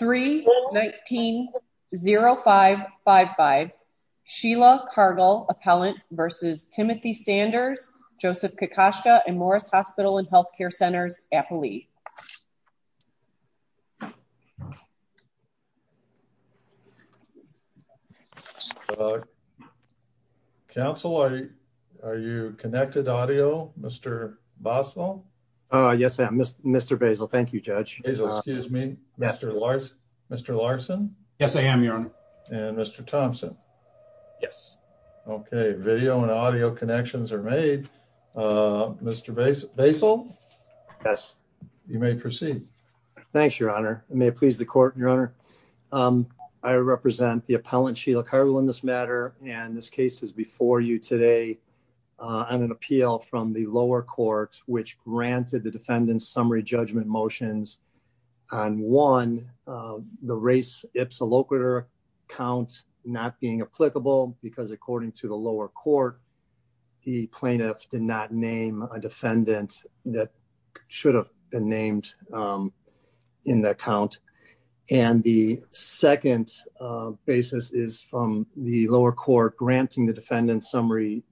3-19-0555 Sheila Cargle vs. Timothy Sanders, Joseph Kokoschka & Morris Hospital & Health Care Centers, Appalee Council, are you connected to audio? Mr. Basel? Yes, I am, Mr. Basel. Thank you, Judge. Mr. Larson? Yes, I am, Your Honor. Mr. Thompson? Yes. Okay, video and audio connections are made. Mr. Basel? Yes. You may proceed. Thanks, Your Honor. May it please the court, Your Honor. I represent the appellant, Sheila Cargle, in this matter and this case is before you today on an appeal that granted the defendant's summary judgment motions on one, the race ipsa locator count not being applicable because according to the lower court, the plaintiff did not name a defendant that should have been named in that count and the second basis is from the lower court granting the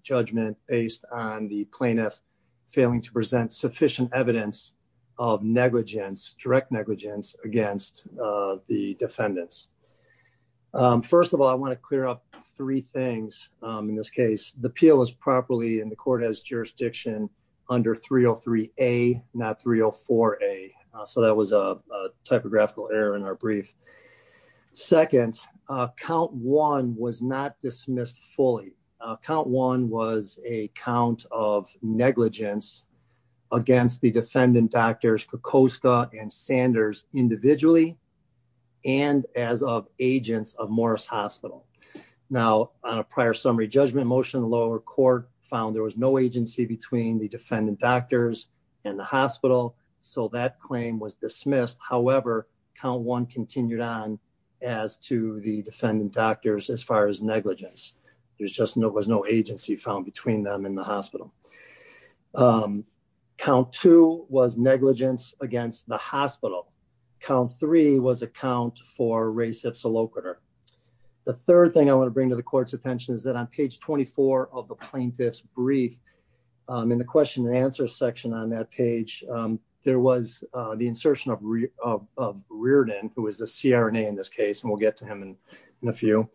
evidence of negligence, direct negligence, against the defendants. First of all, I want to clear up three things in this case. The appeal is properly in the court as jurisdiction under 303A, not 304A, so that was a typographical error in our brief. Second, count one was not dismissed fully. Count one was a count of against the defendant doctors, Kokoska and Sanders, individually and as of agents of Morris Hospital. Now, on a prior summary judgment motion, the lower court found there was no agency between the defendant doctors and the hospital, so that claim was dismissed. However, count one continued on as to the defendant doctors as far as negligence. There's just no, there's no agency found between them and the hospital. Um, count two was negligence against the hospital. Count three was a count for race ipsa locator. The third thing I want to bring to the court's attention is that on page 24 of the plaintiff's brief, um, in the question and answer section on that page, um, there was, uh, the insertion of, of, of Reardon, who is a CRNA in this case, and we'll get to him in a few.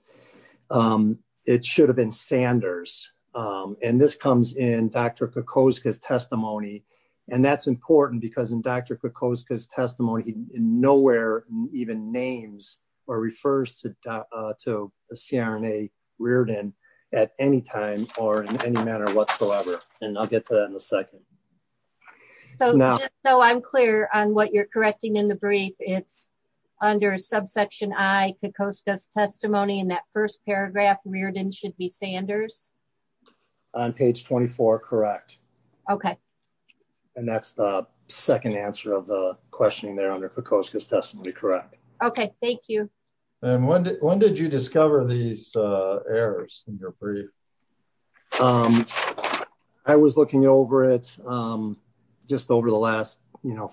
Um, it should have been Sanders. Um, and this comes in Dr Kokoska's testimony, and that's important because in Dr Kokoska's testimony, he nowhere even names or refers to, uh, to the CRNA Reardon at any time or in any manner whatsoever. And I'll get to that in a second. So now, so I'm clear on what you're correcting in the brief. It's under a subsection. I could coast us testimony in that first paragraph. Reardon should be Sanders on page 24. Correct. Okay. And that's the second answer of the questioning there under the coast. His testimony. Correct. Okay. Thank you. And when, when did you discover these, uh, errors in your brief? Um, I was looking over it, um, just over the last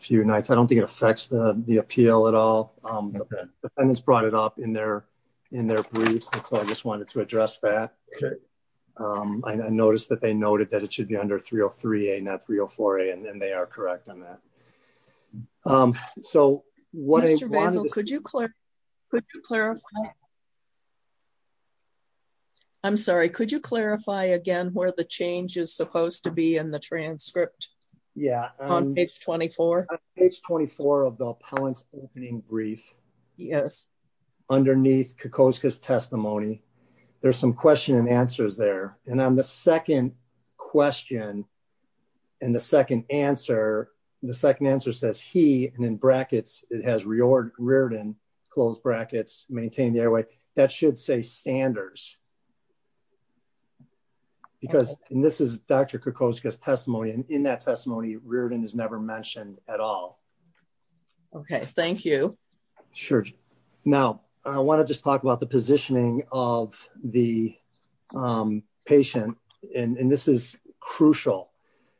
few nights. I don't think it affects the, the appeal at all. Um, the defendants brought it up in their, in their briefs. And so I just wanted to address that. Okay. Um, I noticed that they noted that it should be under 303 a not 304 a and then they are correct on that. Um, so what could you clarify? Could you clarify? I'm sorry. Could you clarify again where the change is supposed to be in the opening brief? Yes. Underneath Kikoskis testimony. There's some question and answers there. And on the second question and the second answer, the second answer says he, and in brackets, it has reordered Reardon close brackets, maintain the airway that should say Sanders. Because this is Dr. Kikoskis testimony. And in that testimony, Reardon has never mentioned at all. Okay. Thank you. Sure. Now I want to just talk about the positioning of the, um, patient and this is crucial.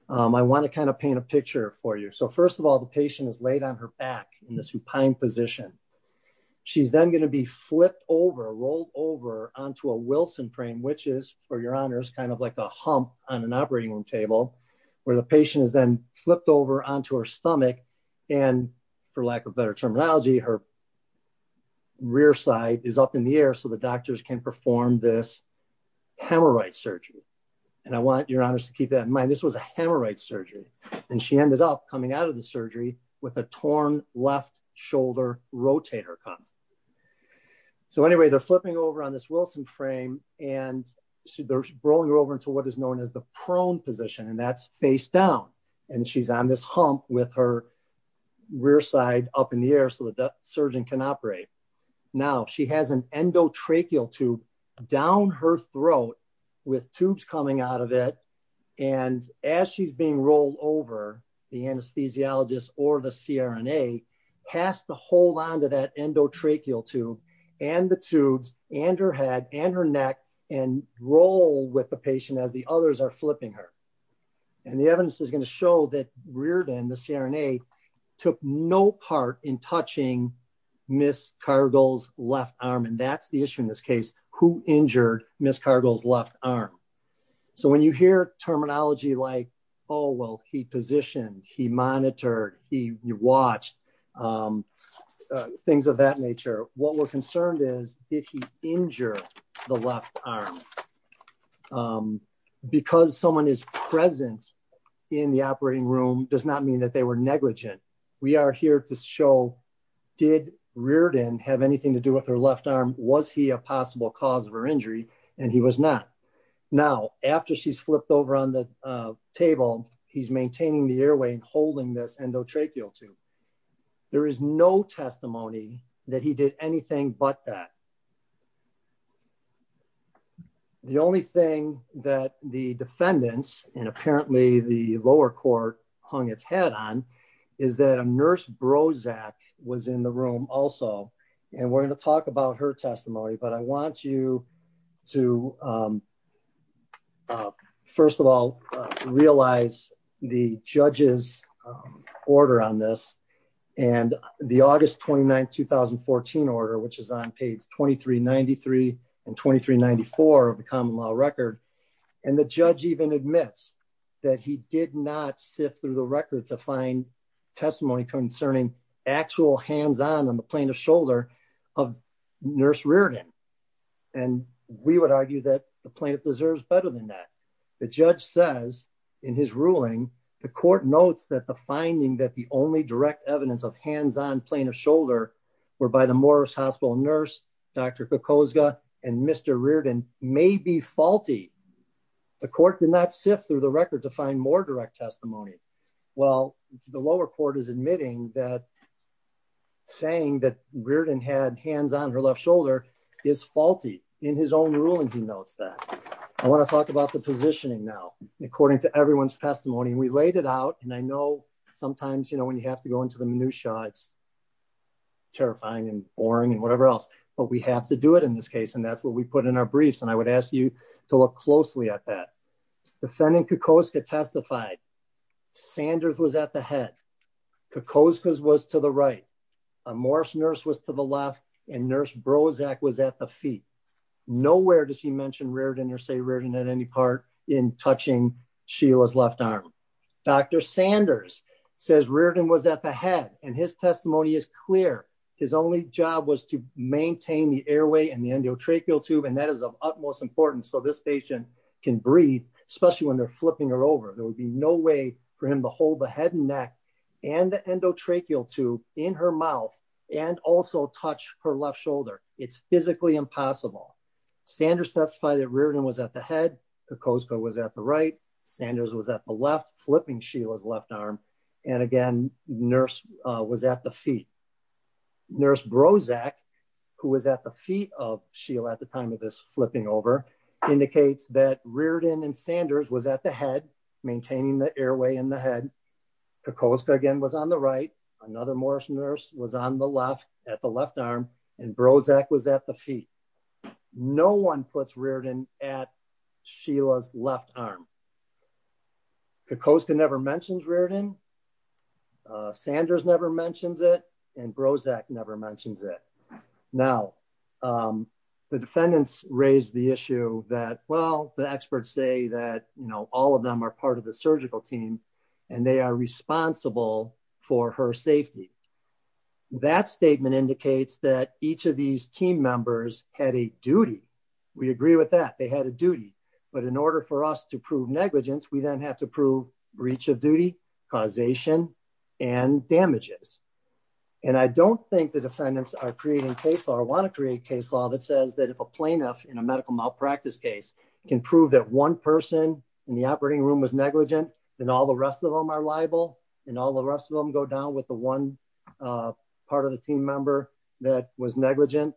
Um, I want to kind of paint a picture for you. So first of all, the patient is laid on her back in the supine position. She's then going to be flipped over, rolled over onto a Wilson frame, which is for your honors, kind of like a hump on an operating room table where the patient is then flipped over onto her stomach. And for lack of better terminology, her rear side is up in the air. So the doctors can perform this hemorrhoid surgery. And I want your honors to keep that in mind. This was a hemorrhoid surgery and she ended up coming out of the surgery with a torn left shoulder rotator cuff. So anyway, they're flipping over on this Wilson frame and they're rolling her over into what is known as the prone position. And that's face down. And she's on this hump with her rear side up in the air so that that surgeon can operate. Now she has an endotracheal tube down her throat with tubes coming out of it. And as she's being rolled over, the anesthesiologist or the CRNA has to hold onto that endotracheal tube and the and her neck and roll with the patient as the others are flipping her. And the evidence is going to show that Reardon, the CRNA, took no part in touching Ms. Cargill's left arm. And that's the issue in this case, who injured Ms. Cargill's left arm. So when you hear terminology like, oh, well, he positioned, he monitored, he watched, things of that nature, what we're concerned is if he injured the left arm, because someone is present in the operating room does not mean that they were negligent. We are here to show, did Reardon have anything to do with her left arm? Was he a possible cause of her injury? And he was not. Now, after she's flipped over on the table, he's maintaining the airway and holding this endotracheal tube. There is no testimony that he did anything but that. The only thing that the defendants and apparently the lower court hung its head on is that a nurse Brozac was in the room also. And we're going to talk about her testimony, but I want you to, um, uh, first of all, realize the judge's order on this and the August 29th, 2014 order, which is on page 2393 and 2394 of the common law record. And the judge even admits that he did not sift through the record to find testimony concerning actual hands on, on the plaintiff's shoulder of nurse Reardon. And we would argue that the plaintiff deserves better than that. The judge says in his ruling, the court notes that the finding that the only direct evidence of hands on plaintiff's shoulder were by the Morris hospital nurse, Dr. Kokozka and Mr. Reardon may be faulty. The court did not sift through the record to find more direct testimony. Well, the lower court is admitting that saying that Reardon had hands on her left shoulder is faulty in his own ruling. He notes that I want to talk about the positioning now, according to everyone's testimony, we laid it out. And I know sometimes, you know, when you have to go into the minutia, it's terrifying and boring and whatever else, but we have to do it in this case. And that's what we put in our briefs. And I would ask you to look closely at that. Defending Kokozka testified Sanders was at the head. Kokozka was to the right. A Morris nurse was to the left and nurse Brozac was at the feet. Nowhere does he mention Reardon or say Reardon at any part in touching Sheila's left arm. Dr. Sanders says Reardon was at the head and his testimony is clear. His only job was to maintain the airway and the endotracheal tube. And that is of utmost importance. So this patient can breathe, especially when they're flipping her over, there would be no way for him to hold the head and neck and the endotracheal tube in her mouth and also touch her left shoulder. It's physically impossible. Sanders testified that Reardon was at the head. Kokozka was at the right. Sanders was at the left, flipping Sheila's left arm. And again, nurse was at the feet. Nurse Brozac, who was at the feet of Sheila at the time of this flipping over indicates that Reardon and Sanders was at the head, maintaining the airway in the head. Kokozka again was on the right. Another Morris nurse was on the left at the left arm and Brozac was at the feet. No one puts Reardon at Sheila's left arm. Kokozka never mentions Reardon. Sanders never mentions it. And Brozac never mentions it. Now, the defendants raised the issue that, well, the experts say that, you know, all of them are part of the That statement indicates that each of these team members had a duty. We agree with that. They had a duty. But in order for us to prove negligence, we then have to prove breach of duty, causation and damages. And I don't think the defendants are creating case or want to create case law that says that if a plaintiff in a medical malpractice case can prove that one person in the operating room was negligent, then all the rest of them are liable and all the rest of them go down with the one part of the team member that was negligent.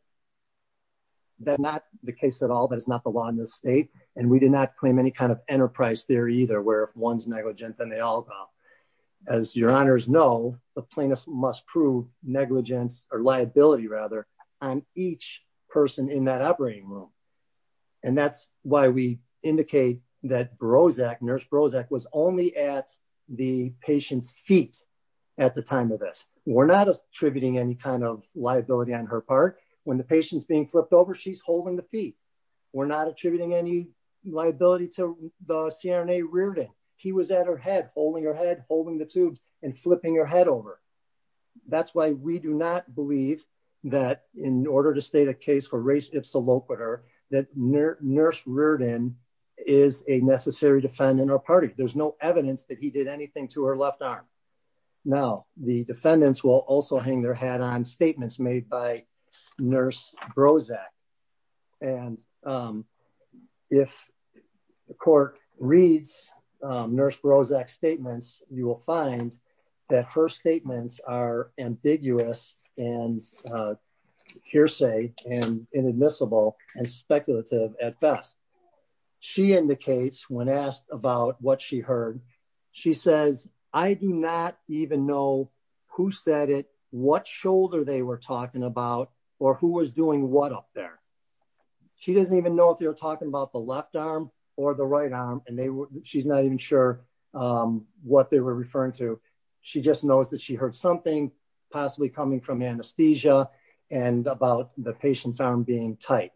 That's not the case at all. That is not the law in this state. And we did not claim any kind of enterprise theory either, where if one's negligent, then they all go. As your honors know, the plaintiff must prove negligence or liability rather on each person in that operating room. And that's why we at the time of this, we're not attributing any kind of liability on her part. When the patient's being flipped over, she's holding the feet. We're not attributing any liability to the CRNA Reardon. He was at her head holding her head holding the tubes and flipping your head over. That's why we do not believe that in order to state a case for race, it's a low quarter that nurse nurse Reardon is a necessary defendant or party. There's no evidence that he did anything to her left arm. Now the defendants will also hang their hat on statements made by nurse Brozac. And, um, if the court reads, um, nurse Brozac statements, you will find that her statements are ambiguous and, uh, hearsay and inadmissible and speculative at best. She indicates when asked about what she heard, she says, I do not even know who said it, what shoulder they were talking about or who was doing what up there. She doesn't even know if they were talking about the left arm or the right arm and they were, she's not even sure, um, what they were referring to. She just knows that she heard something possibly coming from anesthesia and about the patient's arm being tight.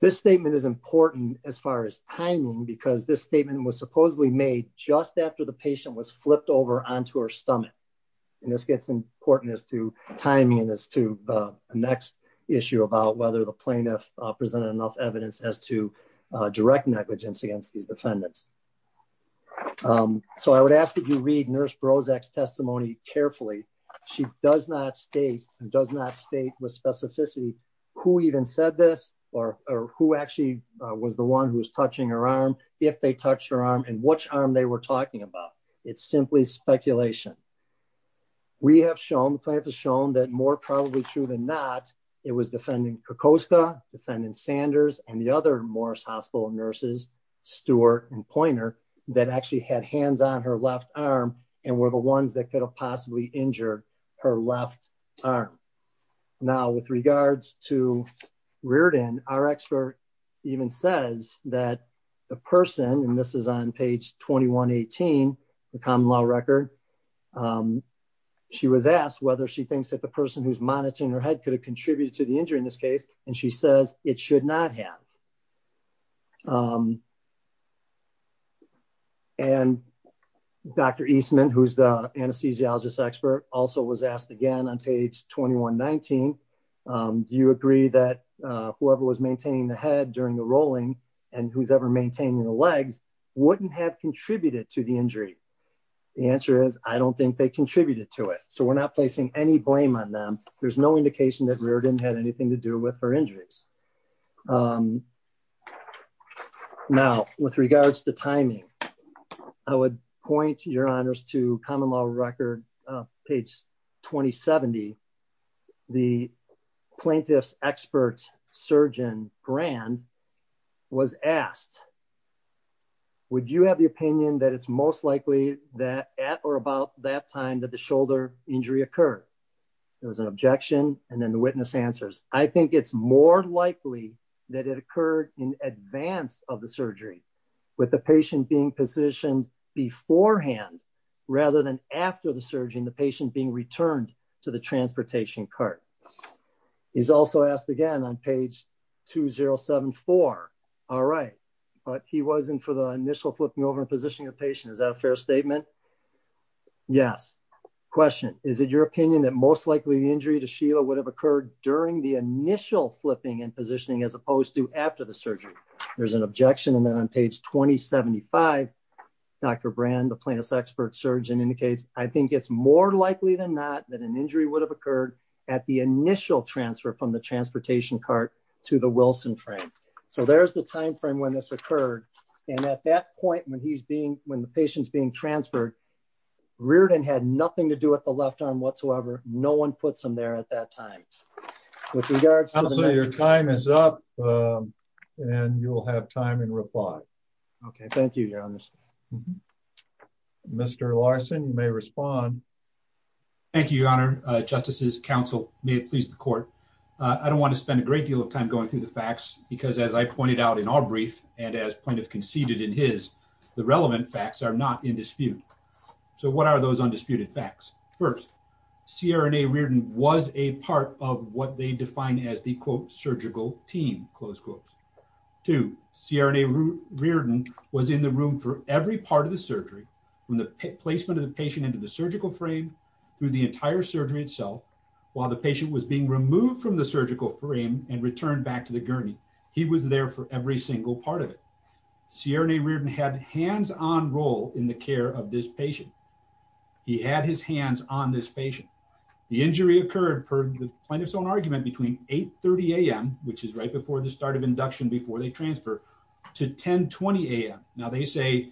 This statement is important as far as timing, because this statement was supposedly made just after the patient was flipped over onto her stomach. And this gets important as to timing and as to the next issue about whether the plaintiff presented enough evidence as to a direct negligence against these defendants. Um, so I would ask that you read nurse Brozac's who even said this or, or who actually was the one who was touching her arm if they touched her arm and which arm they were talking about. It's simply speculation. We have shown the plant has shown that more probably true than not. It was defending Krakowska defendant Sanders and the other Morris hospital nurses, Stewart and pointer that actually had hands on her left arm and were the ones that could have possibly injured her left arm. Now with regards to Reardon, our expert even says that the person, and this is on page 2118, the common law record. Um, she was asked whether she thinks that the person who's monitoring her head could have contributed to the injury in this case. And she says it should not have. Um, and Dr. Eastman, who's the anesthesiologist expert also was asked again on page 2119. Um, do you agree that, uh, whoever was maintaining the head during the rolling and who's ever maintaining the legs wouldn't have contributed to the injury? The answer is I don't think they contributed to it, so we're not placing any blame on them. There's no indication that Reardon had anything to do with her injuries. Um, now with regards to timing, I would point your honors to common law record, uh, page 20, 70, the plaintiff's expert surgeon brand was asked, would you have the opinion that it's most likely that at or about that time that the shoulder injury occurred, there was an objection. And then the witness answers. I think it's more likely that it occurred in beforehand rather than after the surgeon, the patient being returned to the transportation cart. He's also asked again on page 2074. All right. But he wasn't for the initial flipping over and positioning of patient. Is that a fair statement? Yes. Question. Is it your opinion that most likely the injury to Sheila would have occurred during the initial flipping and positioning as opposed to after the surgery? There's an objection. And then on page 2075, Dr. Brand, the plaintiff's expert surgeon indicates, I think it's more likely than that, that an injury would have occurred at the initial transfer from the transportation cart to the Wilson frame. So there's the time frame when this occurred. And at that point when he's being, when the patient's being transferred, Reardon had nothing to do with the left arm whatsoever. No one puts them there at that time with regards to your time is up. Um, and you'll have time and reply. Okay, thank you. You're honest. Mr Larson, you may respond. Thank you, Your Honor. Justices Council may please the court. I don't want to spend a great deal of time going through the facts because, as I pointed out in our brief and as plaintiff conceded in his, the relevant facts are not in dispute. So what are those undisputed facts? First, Sierra and a weird and was a part of what they define as the quote surgical team. Close quotes to Sierra and a weird and was in the room for every part of the surgery. When the placement of the patient into the surgical frame through the entire surgery itself while the patient was being removed from the surgical frame and returned back to the gurney, he was there for every single part of it. Sierra and a weird and had hands on role in the care of this patient. He had his hands on this patient. The injury occurred for the own argument between 8 30 a.m. which is right before the start of induction before they transfer to 10 20 a.m. Now they say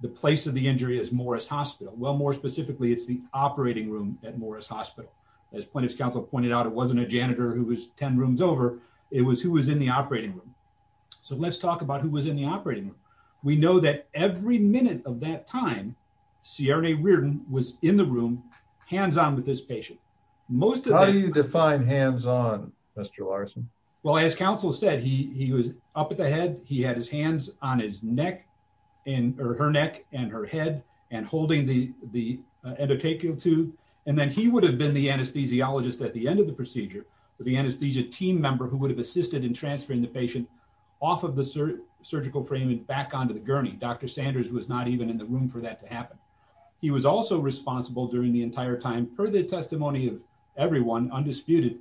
the place of the injury is Morris Hospital. Well, more specifically, it's the operating room at Morris Hospital. As plaintiff's counsel pointed out, it wasn't a janitor who was 10 rooms over. It was who was in the operating room. So let's talk about who was in the operating room. We know that every minute of that time, Sierra and a weird and was in the room hands on with this patient. Most of you define hands on Mr Larson. Well, as counsel said, he was up at the head. He had his hands on his neck and her neck and her head and holding the endotachial to and then he would have been the anesthesiologist at the end of the procedure. The anesthesia team member who would have assisted in transferring the patient off of the surgical frame and back onto the gurney. Dr Sanders was not even in the room for that to happen. He was also responsible during the entire time per the testimony of everyone undisputed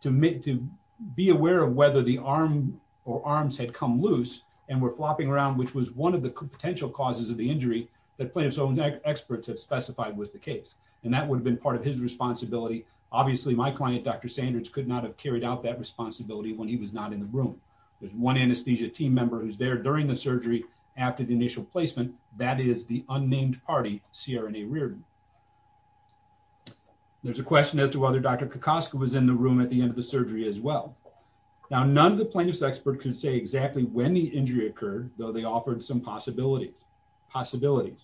to meet to be aware of whether the arm or arms had come loose and we're flopping around, which was one of the potential causes of the injury that players own experts have specified was the case, and that would have been part of his responsibility. Obviously, my client, Dr Sanders, could not have carried out that responsibility when he was not in the room. There's one anesthesia team member who's there during the surgery after the initial placement. That is the unnamed party CR and a Reardon. There's a question as to whether Dr Picasso was in the room at the end of the surgery as well. Now, none of the plaintiffs expert could say exactly when the injury occurred, though they offered some possibilities. Possibilities.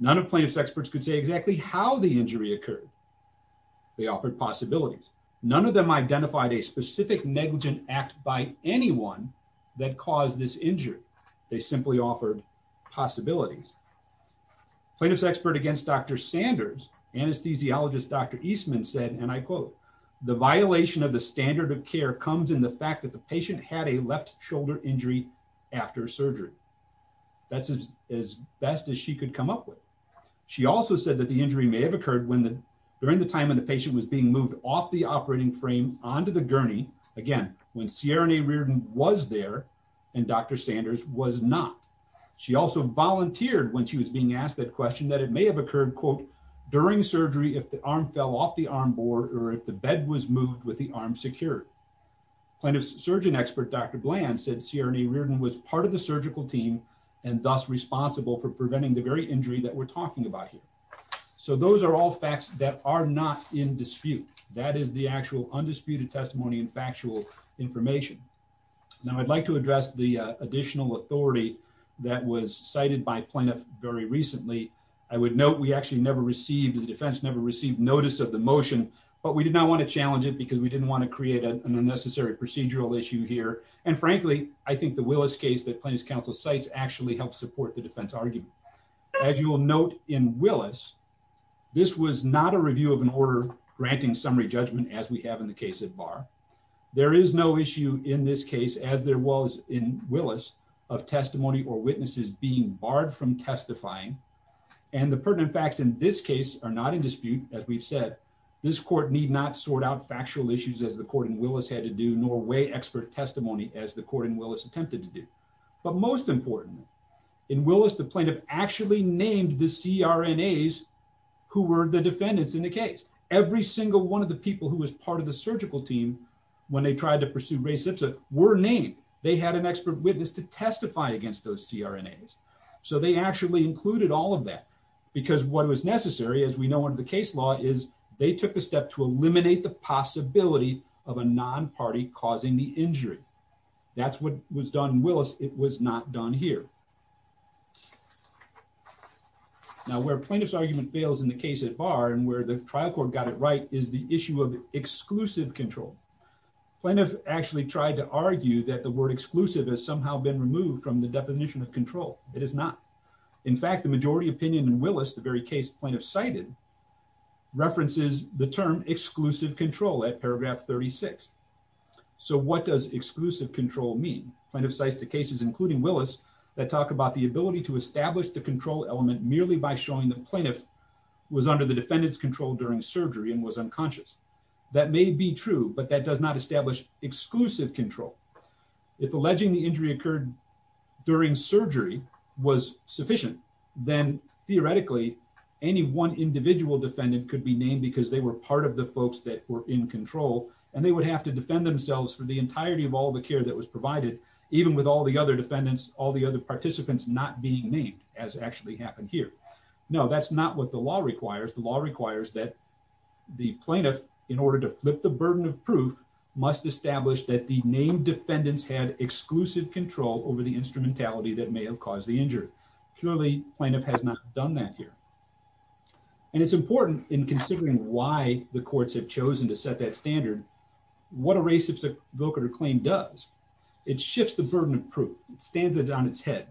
None of plaintiffs experts could say exactly how the injury occurred. They offered possibilities. None of them identified a specific negligent act by anyone that caused this injury. They simply offered possibilities. Plaintiffs expert against Dr Sanders, anesthesiologist Dr Eastman said, and I quote, the violation of the standard of care comes in the fact that the patient had a left shoulder injury after surgery. That's as best as she could come up with. She also said that the injury may have occurred when the during the time of the patient was being moved off the operating frame onto the gurney. Again, when Sierra and a Reardon was there, and Dr Sanders was not. She also volunteered when she was being asked that question that it may have occurred, quote, during surgery if the arm fell off the arm board or if the bed was moved with the arm secured. Plenty of surgeon expert Dr Bland said Sierra and a Reardon was part of the surgical team and thus responsible for preventing the very injury that we're talking about here. So those are all facts that are not in dispute. That is the actual undisputed testimony and factual information. Now, I'd like to address the additional authority that was cited by plaintiff very recently. I would note we actually never received. The defense never received notice of the motion, but we did not want to challenge it because we didn't want to create an unnecessary procedural issue here. And frankly, I think the Willis case that Plains Council sites actually helped support the defense argument. As you will note in Willis, this was not a review of an order granting summary judgment as we have in the case at bar. There is no issue in this case, as there was in Willis, of testimony or witnesses being barred from testifying. And the pertinent facts in this case are not in dispute. As we've said, this court need not sort out factual issues as the court in Willis had to do, nor weigh expert testimony as the court in Willis attempted to do. But most importantly, in Willis, the plaintiff actually named the C. R. N. A. S. Who were the defendants in the case? Every single one of the people who was part of the surgical team when they tried to pursue racist were named. They had an expert witness to testify against those C. R. N. A. S. So they actually included all of that because what was necessary, as we know, one of the case law is they took the step to eliminate the injury. That's what was done in Willis. It was not done here. Now, where plaintiff's argument fails in the case at bar and where the trial court got it right is the issue of exclusive control. Plaintiff actually tried to argue that the word exclusive has somehow been removed from the definition of control. It is not. In fact, the majority opinion in Willis, the very case plaintiff cited, references the term exclusive control at paragraph 36. So what does exclusive control mean? Plaintiff cites the cases, including Willis, that talk about the ability to establish the control element merely by showing the plaintiff was under the defendant's control during surgery and was unconscious. That may be true, but that does not establish exclusive control. If alleging the injury occurred during surgery was sufficient, then theoretically, any one individual defendant could be named because they were part of the folks that were in control, and they would have to defend themselves for the entirety of all the care that was provided, even with all the other defendants, all the other participants not being named, as actually happened here. No, that's not what the law requires. The law requires that the plaintiff, in order to flip the burden of proof, must establish that the named defendants had exclusive control over the instrumentality that may have caused the injury. Clearly, plaintiff has not done that here. And it's important in considering why the standard what a race of vocator claim does. It shifts the burden of proof. It stands it on its head.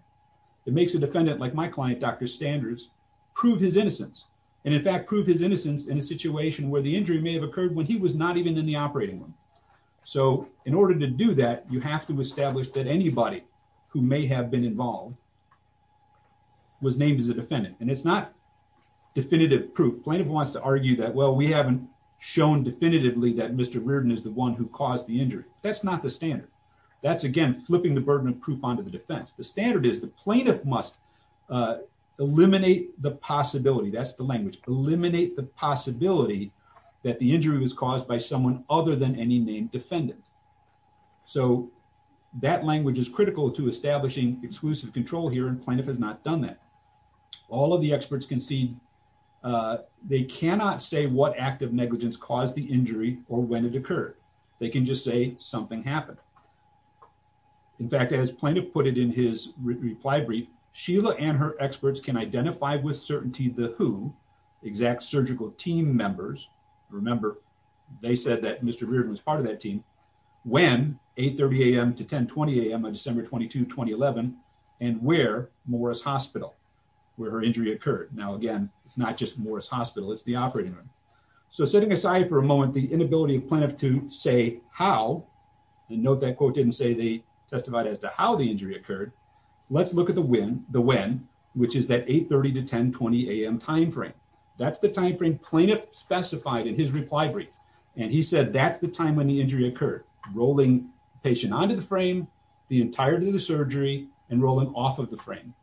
It makes a defendant like my client, Dr. Standards, prove his innocence and, in fact, prove his innocence in a situation where the injury may have occurred when he was not even in the operating room. So in order to do that, you have to establish that anybody who may have been involved was named as a defendant. And it's not definitive proof. Plaintiff wants to that Mr Reardon is the one who caused the injury. That's not the standard. That's again flipping the burden of proof onto the defense. The standard is the plaintiff must, uh, eliminate the possibility. That's the language. Eliminate the possibility that the injury was caused by someone other than any named defendant. So that language is critical to establishing exclusive control here, and plaintiff has not done that. All of the experts concede, uh, they cannot say what act of negligence caused the injury or when it occurred. They can just say something happened. In fact, as plaintiff put it in his reply brief, Sheila and her experts can identify with certainty the who exact surgical team members. Remember, they said that Mr Reardon was part of that team when 8 30 a.m. to 10 20 a.m. on December 22 2011 and where Morris Hospital where her injury occurred. Now, again, it's not just Morris Hospital. It's the operating room. So sitting aside for a moment, the inability of plaintiff to say how and note that quote didn't say they testified as to how the injury occurred. Let's look at the win the win, which is that 8 30 to 10 20 a.m. timeframe. That's the timeframe plaintiff specified in his reply brief, and he said that's the time when the injury occurred, rolling patient onto the frame the entirety of surgery and rolling off of the frame.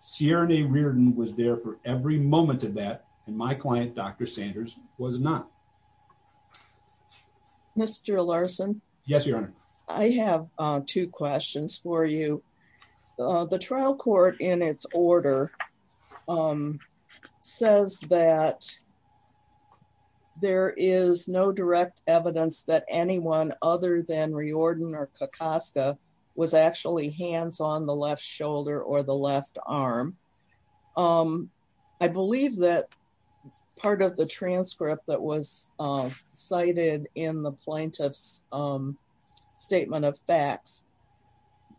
Sierra Reardon was there for every moment of that, and my client, Dr Sanders, was not Mr Larson. Yes, Your Honor. I have two questions for you. The trial court in its order, um, says that there is no direct evidence that anyone other than reordin or kakoska was actually hands on the left shoulder or the left arm. Um, I believe that part of the transcript that was cited in the plaintiff's, um, statement of facts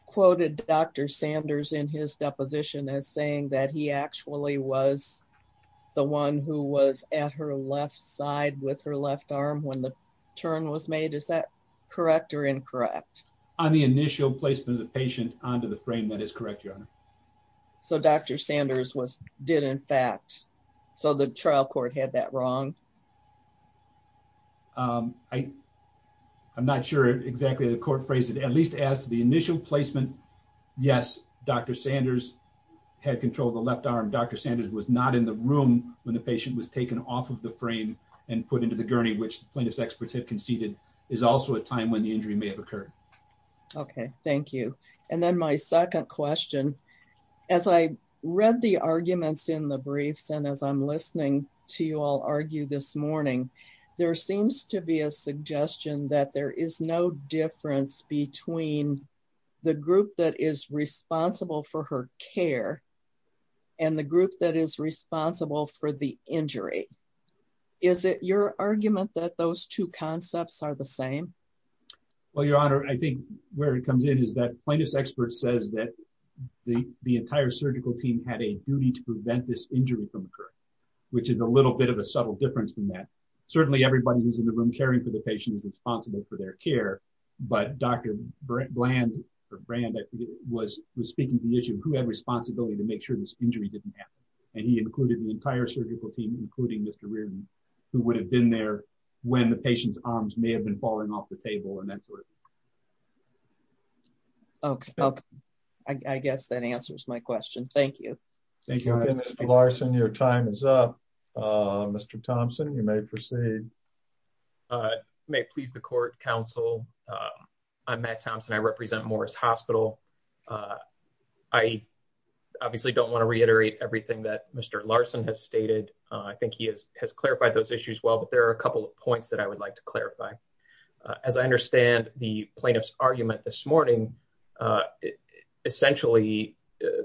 quoted Dr Sanders in his deposition as saying that he actually was the one who was at her left side with her left arm when the turn was made. Is that correct or incorrect on the initial placement of the patient onto the frame? That is correct, Your Honor. So Dr Sanders was did, in fact, so the trial court had that wrong. Um, I I'm not sure exactly the court phrase it at least asked the initial placement. Yes, Dr Sanders had control of the left arm. Dr Sanders was not in the room when the patient was taken off of the frame and put into the gurney, which plaintiffs experts have conceded is also a time when the injury may have occurred. Okay, thank you. And then my second question as I read the arguments in the briefs and as I'm listening to you all argue this morning, there seems to be a suggestion that there is no difference between the group that is responsible for her care and the group that is responsible for the injury. Is it your argument that those two concepts are the same? Well, Your Honor, I think where it comes in is that plaintiff's expert says that the entire surgical team had a duty to prevent this injury from occurring, which is a little bit of a subtle difference from that. Certainly, everybody who's in the room caring for the patient is responsible for their care. But Dr Bland brand was speaking to the issue of who had responsibility to make sure this injury didn't happen. And he included the entire surgical team, including Mr Reardon, who would have been there when the patient's arms may have been falling off the table and that sort of Okay, I guess that answers my question. Thank you. Thank you, Mr Larson. Your time is up. Uh, Mr Thompson, you may proceed. Uh, may please the court counsel. Uh, I'm Matt Thompson. I represent Morris Hospital. Uh, I obviously don't want to reiterate everything that Mr Larson has stated. I think he has has clarified those issues well, but there are a couple of points that I would like to clarify. As I understand the plaintiff's argument this morning, uh, essentially,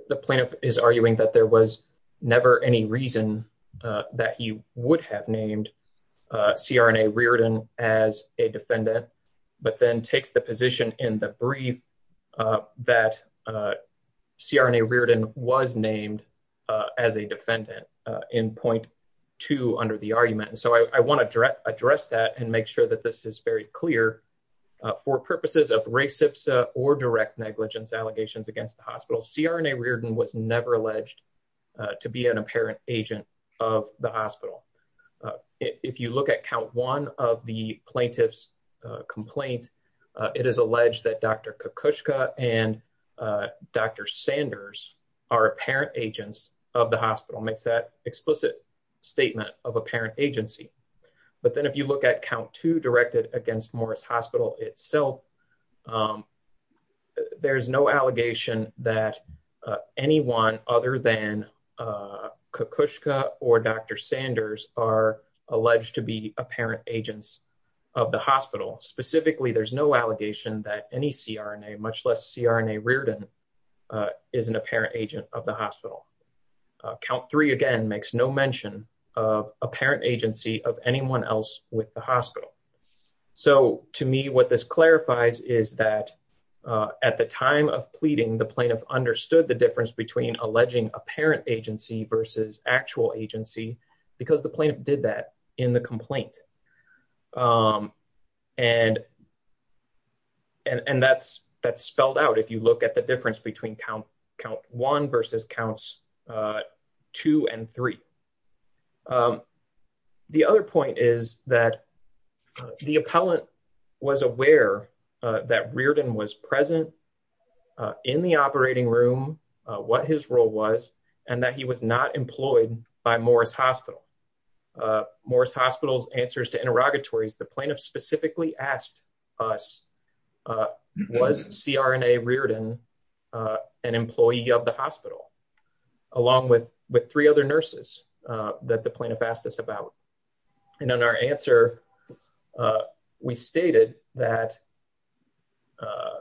the plaintiff is arguing that there was never any reason that he would have named C. R. N. A. Reardon as a defendant, but then takes the position in the brief that, uh, C. R. N. A. Reardon was named as a defendant in 0.2 under the argument. So I want to direct address that and make sure that this is very clear for purposes of racist or direct negligence allegations against the hospital. C. R. N. A. Reardon was never alleged to be an apparent agent of the hospital. If you look at count one of the plaintiff's complaint, it is alleged that Dr Kushka and Dr Sanders are apparent agents of the hospital makes that explicit statement of apparent agency. But then, if you look at count two directed against Morris Hospital itself, um, there is no allegation that anyone other than, uh, Kushka or Dr Sanders are alleged to be apparent of the hospital. Specifically, there's no allegation that any C. R. N. A. Much less C. R. N. A. Reardon, uh, is an apparent agent of the hospital. Count three again makes no mention of apparent agency of anyone else with the hospital. So to me, what this clarifies is that, uh, at the time of pleading, the plaintiff understood the difference between alleging apparent agency versus actual agency because the plaintiff did that in the complaint. Um, and and and that's that's spelled out. If you look at the difference between count count one versus counts, uh, two and three. Um, the other point is that the appellant was aware that Reardon was present in the operating room, what his role was and that he was not employed by Morris Hospital. Uh, Morris Hospital's answers to interrogatories. The plaintiff specifically asked us, uh, was C. R. N. A. Reardon, uh, an employee of the hospital along with with three other nurses that the plaintiff asked us And in our answer, uh, we stated that, uh,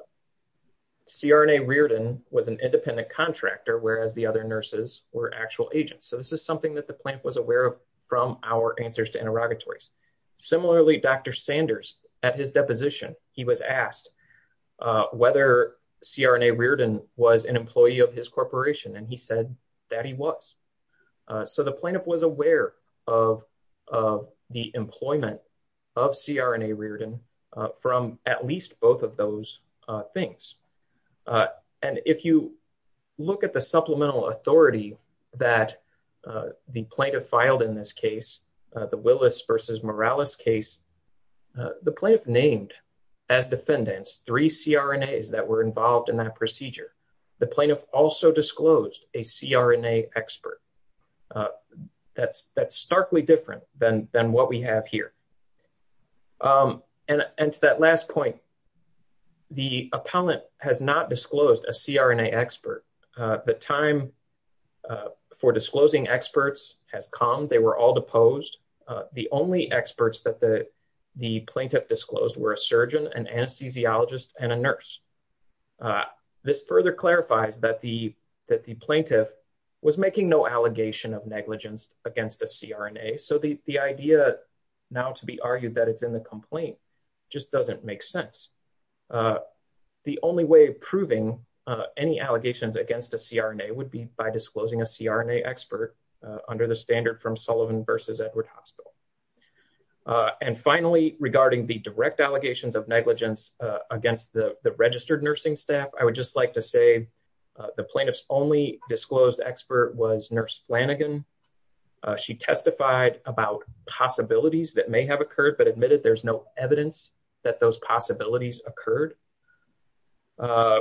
C. R. N. A. Reardon was an independent contractor, whereas the other nurses were actual agents. So this is something that the plant was aware of from our answers to interrogatories. Similarly, Dr Sanders at his deposition, he was asked whether C. R. N. A. Reardon was an employee of his corporation, and he that he was. So the plaintiff was aware of of the employment of C. R. N. A. Reardon from at least both of those things. Uh, and if you look at the supplemental authority that the plaintiff filed in this case, the Willis versus Morales case, the plaintiff named as defendants three C. R. N. A. Is that were involved in that procedure. The plaintiff also disclosed a C. R. N. A. Expert. Uh, that's that's starkly different than than what we have here. Um, and and to that last point, the appellant has not disclosed a C. R. N. A. Expert. Uh, the time, uh, for disclosing experts has come. They were all deposed. The only experts that the plaintiff disclosed were a surgeon and anesthesiologist and a nurse. Uh, this clarifies that the that the plaintiff was making no allegation of negligence against the C. R. N. A. So the idea now to be argued that it's in the complaint just doesn't make sense. Uh, the only way proving any allegations against a C. R. N. A. Would be by disclosing a C. R. N. A. Expert under the standard from Sullivan versus Edward Hospital. Uh, and finally, regarding the direct allegations of negligence against the registered nursing staff, I would just like to say the plaintiff's only disclosed expert was nurse Flanagan. She testified about possibilities that may have occurred, but admitted there's no evidence that those possibilities occurred. Uh,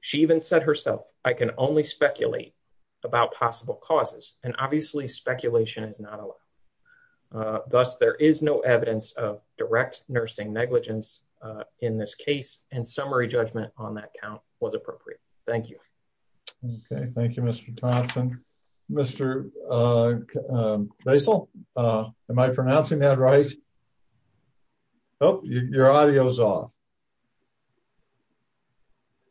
she even said herself, I can only speculate about possible causes, and obviously speculation is not allowed. Uh, thus, there is no nursing negligence in this case, and summary judgment on that count was appropriate. Thank you. Okay. Thank you, Mr Thompson, Mr. Uh, uh, basil. Uh, am I pronouncing that right? Oh, your audio is off.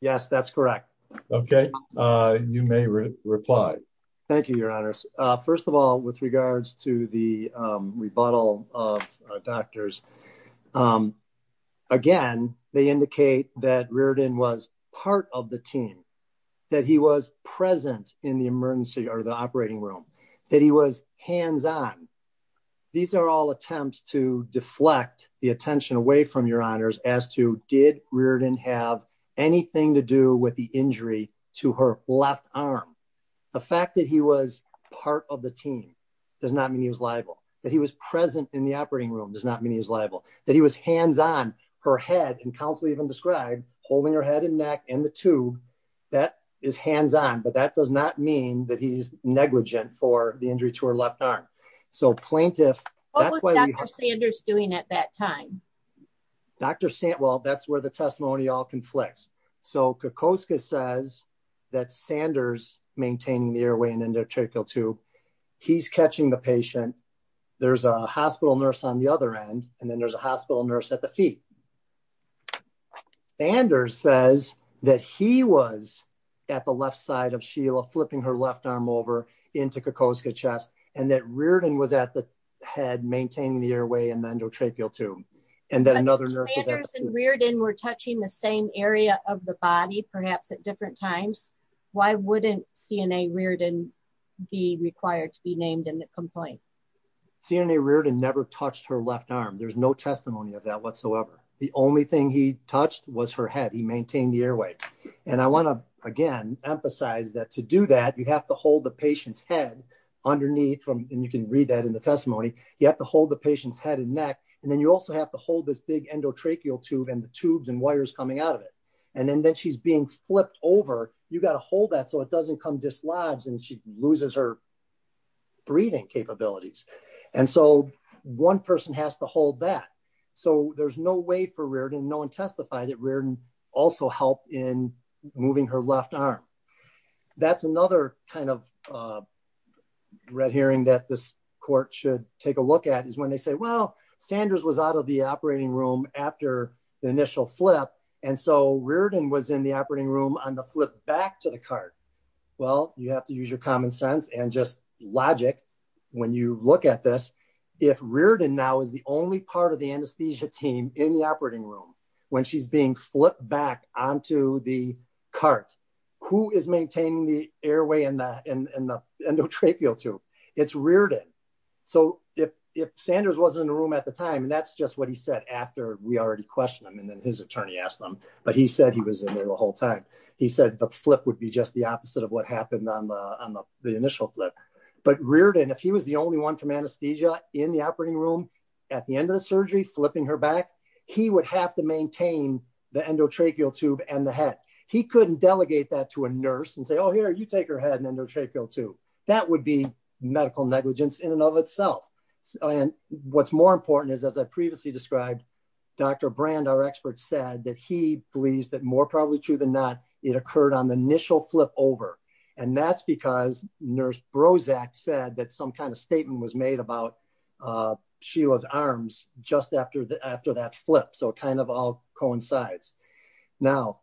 Yes, that's correct. Okay. Uh, you may reply. Thank you, Your Honor. First of all, with regards to the, um, rebuttal of doctors, um, again, they indicate that Reardon was part of the team, that he was present in the emergency or the operating room that he was hands on. These are all attempts to deflect the attention away from your honors as to did Reardon have anything to do with to her left arm. The fact that he was part of the team does not mean he was liable, that he was present in the operating room does not mean he was liable, that he was hands on her head and council even described holding her head and neck and the two that is hands on. But that does not mean that he's negligent for the injury to her left arm. So plaintiff, that's what Dr Sanders doing at that time. Dr. St. Well, that's where the testimony all flicks. So Kakoska says that Sanders maintaining the airway and endotracheal to he's catching the patient. There's a hospital nurse on the other end and then there's a hospital nurse at the feet. Sanders says that he was at the left side of Sheila, flipping her left arm over into Kakoska chest and that Reardon was at the head, maintaining the airway and endotracheal to and that another nurse and Reardon were touching the same area of the body, perhaps at different times. Why wouldn't CNA Reardon be required to be named in the complaint? CNA Reardon never touched her left arm. There's no testimony of that whatsoever. The only thing he touched was her head. He maintained the airway and I want to again emphasize that to do that, you have to hold the patient's head underneath from and you can read that in the testimony. You have to hold the patient's head and neck and then you also have to hold this big endotracheal tube and the tubes and coming out of it and then she's being flipped over. You got to hold that so it doesn't come dislodged and she loses her breathing capabilities and so one person has to hold that. So there's no way for Reardon, no one testified that Reardon also helped in moving her left arm. That's another kind of red herring that this court should take a look at is when they say, well, Sanders was out of the operating room after the initial flip and so Reardon was in the operating room on the flip back to the cart. Well, you have to use your common sense and just logic when you look at this. If Reardon now is the only part of the anesthesia team in the operating room when she's being flipped back onto the cart, who is maintaining the airway and the endotracheal tube? It's Reardon. So if Sanders wasn't in the room at the time and that's just what he said after we already questioned him and then his attorney asked him, but he said he was in there the whole time. He said the flip would be just the opposite of what happened on the initial flip. But Reardon, if he was the only one from anesthesia in the operating room at the end of the surgery flipping her back, he would have to maintain the endotracheal tube and the head. He couldn't delegate that to a nurse and say, oh, here, you take her head and endotracheal tube. That would be medical negligence in and of itself. And what's more important is, as I previously described, Dr. Brand, our expert, said that he believes that more probably true than not, it occurred on the initial flip over. And that's because nurse Brozac said that some kind of statement was made about Sheila's arms just after that flip. So it kind of all coincides. Now,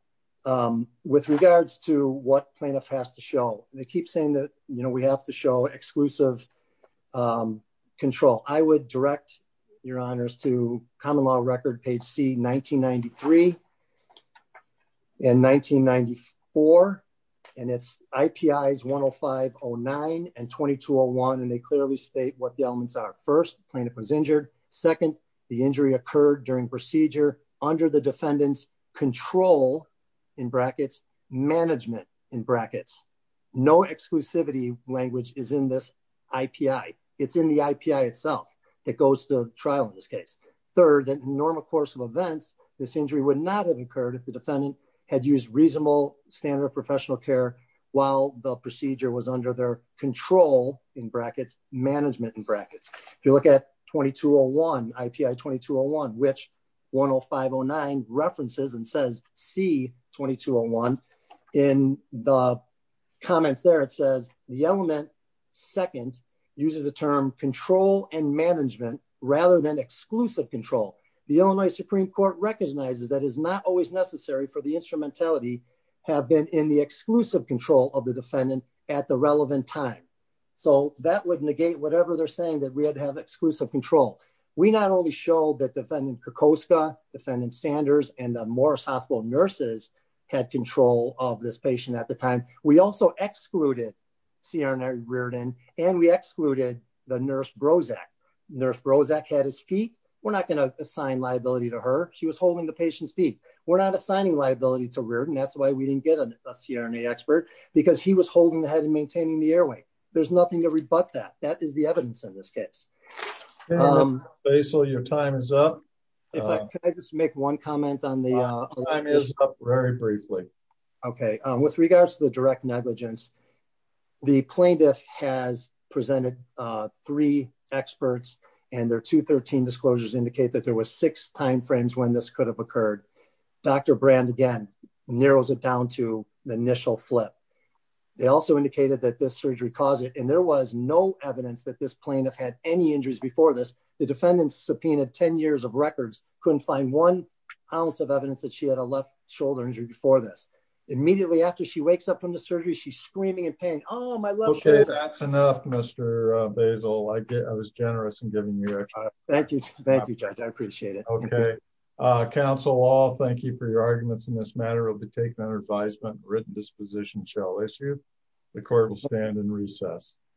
with regards to what plaintiff has to show, they keep saying that, you know, we have to show exclusive control. I would direct your honors to common law record, page C, 1993 and 1994. And it's IPIs 10509 and 2201. And they clearly state what the elements are. First, plaintiff was injured. Second, the injury occurred during procedure under the no exclusivity language is in this IPI. It's in the IPI itself. It goes to trial in this case. Third, that normal course of events, this injury would not have occurred if the defendant had used reasonable standard of professional care, while the procedure was under their control in brackets, management in brackets. If you look at 2201, IPI 2201, which 10509 references and says C 2201 in the comments there, it says the element second uses the term control and management rather than exclusive control. The Illinois Supreme Court recognizes that is not always necessary for the instrumentality have been in the exclusive control of the defendant at the relevant time. So that would negate whatever they're saying that we had to have exclusive control. We not only show that defendant Kukoska, defendant Sanders and the Morris Hospital nurses had control of this patient at the time, we also excluded CRNA Reardon and we excluded the nurse Brozac. Nurse Brozac had his feet. We're not going to assign liability to her. She was holding the patient's feet. We're not assigning liability to Reardon. That's why we didn't get a CRNA expert because he was holding the head and maintaining the airway. There's nothing to rebut that. That is the evidence in this case. Um, so your time is up. Can I just make one comment on the, uh, very briefly. Okay. Um, with regards to the direct negligence, the plaintiff has presented, uh, three experts and their two 13 disclosures indicate that there was six timeframes when this could have occurred. Dr. Brand again, narrows it down to the initial flip. They also indicated that this surgery and there was no evidence that this plaintiff had any injuries before this. The defendant subpoenaed 10 years of records. Couldn't find one ounce of evidence that she had a left shoulder injury before this. Immediately after she wakes up from the surgery, she's screaming in pain. Oh, my love. Okay. That's enough, Mr. Basil. I get, I was generous in giving you that. Thank you. Thank you, judge. I appreciate it. Okay. Uh, counsel all, thank you for your arguments in this matter. We'll be taking on our advisement written disposition shall issue. The court will stand and recess.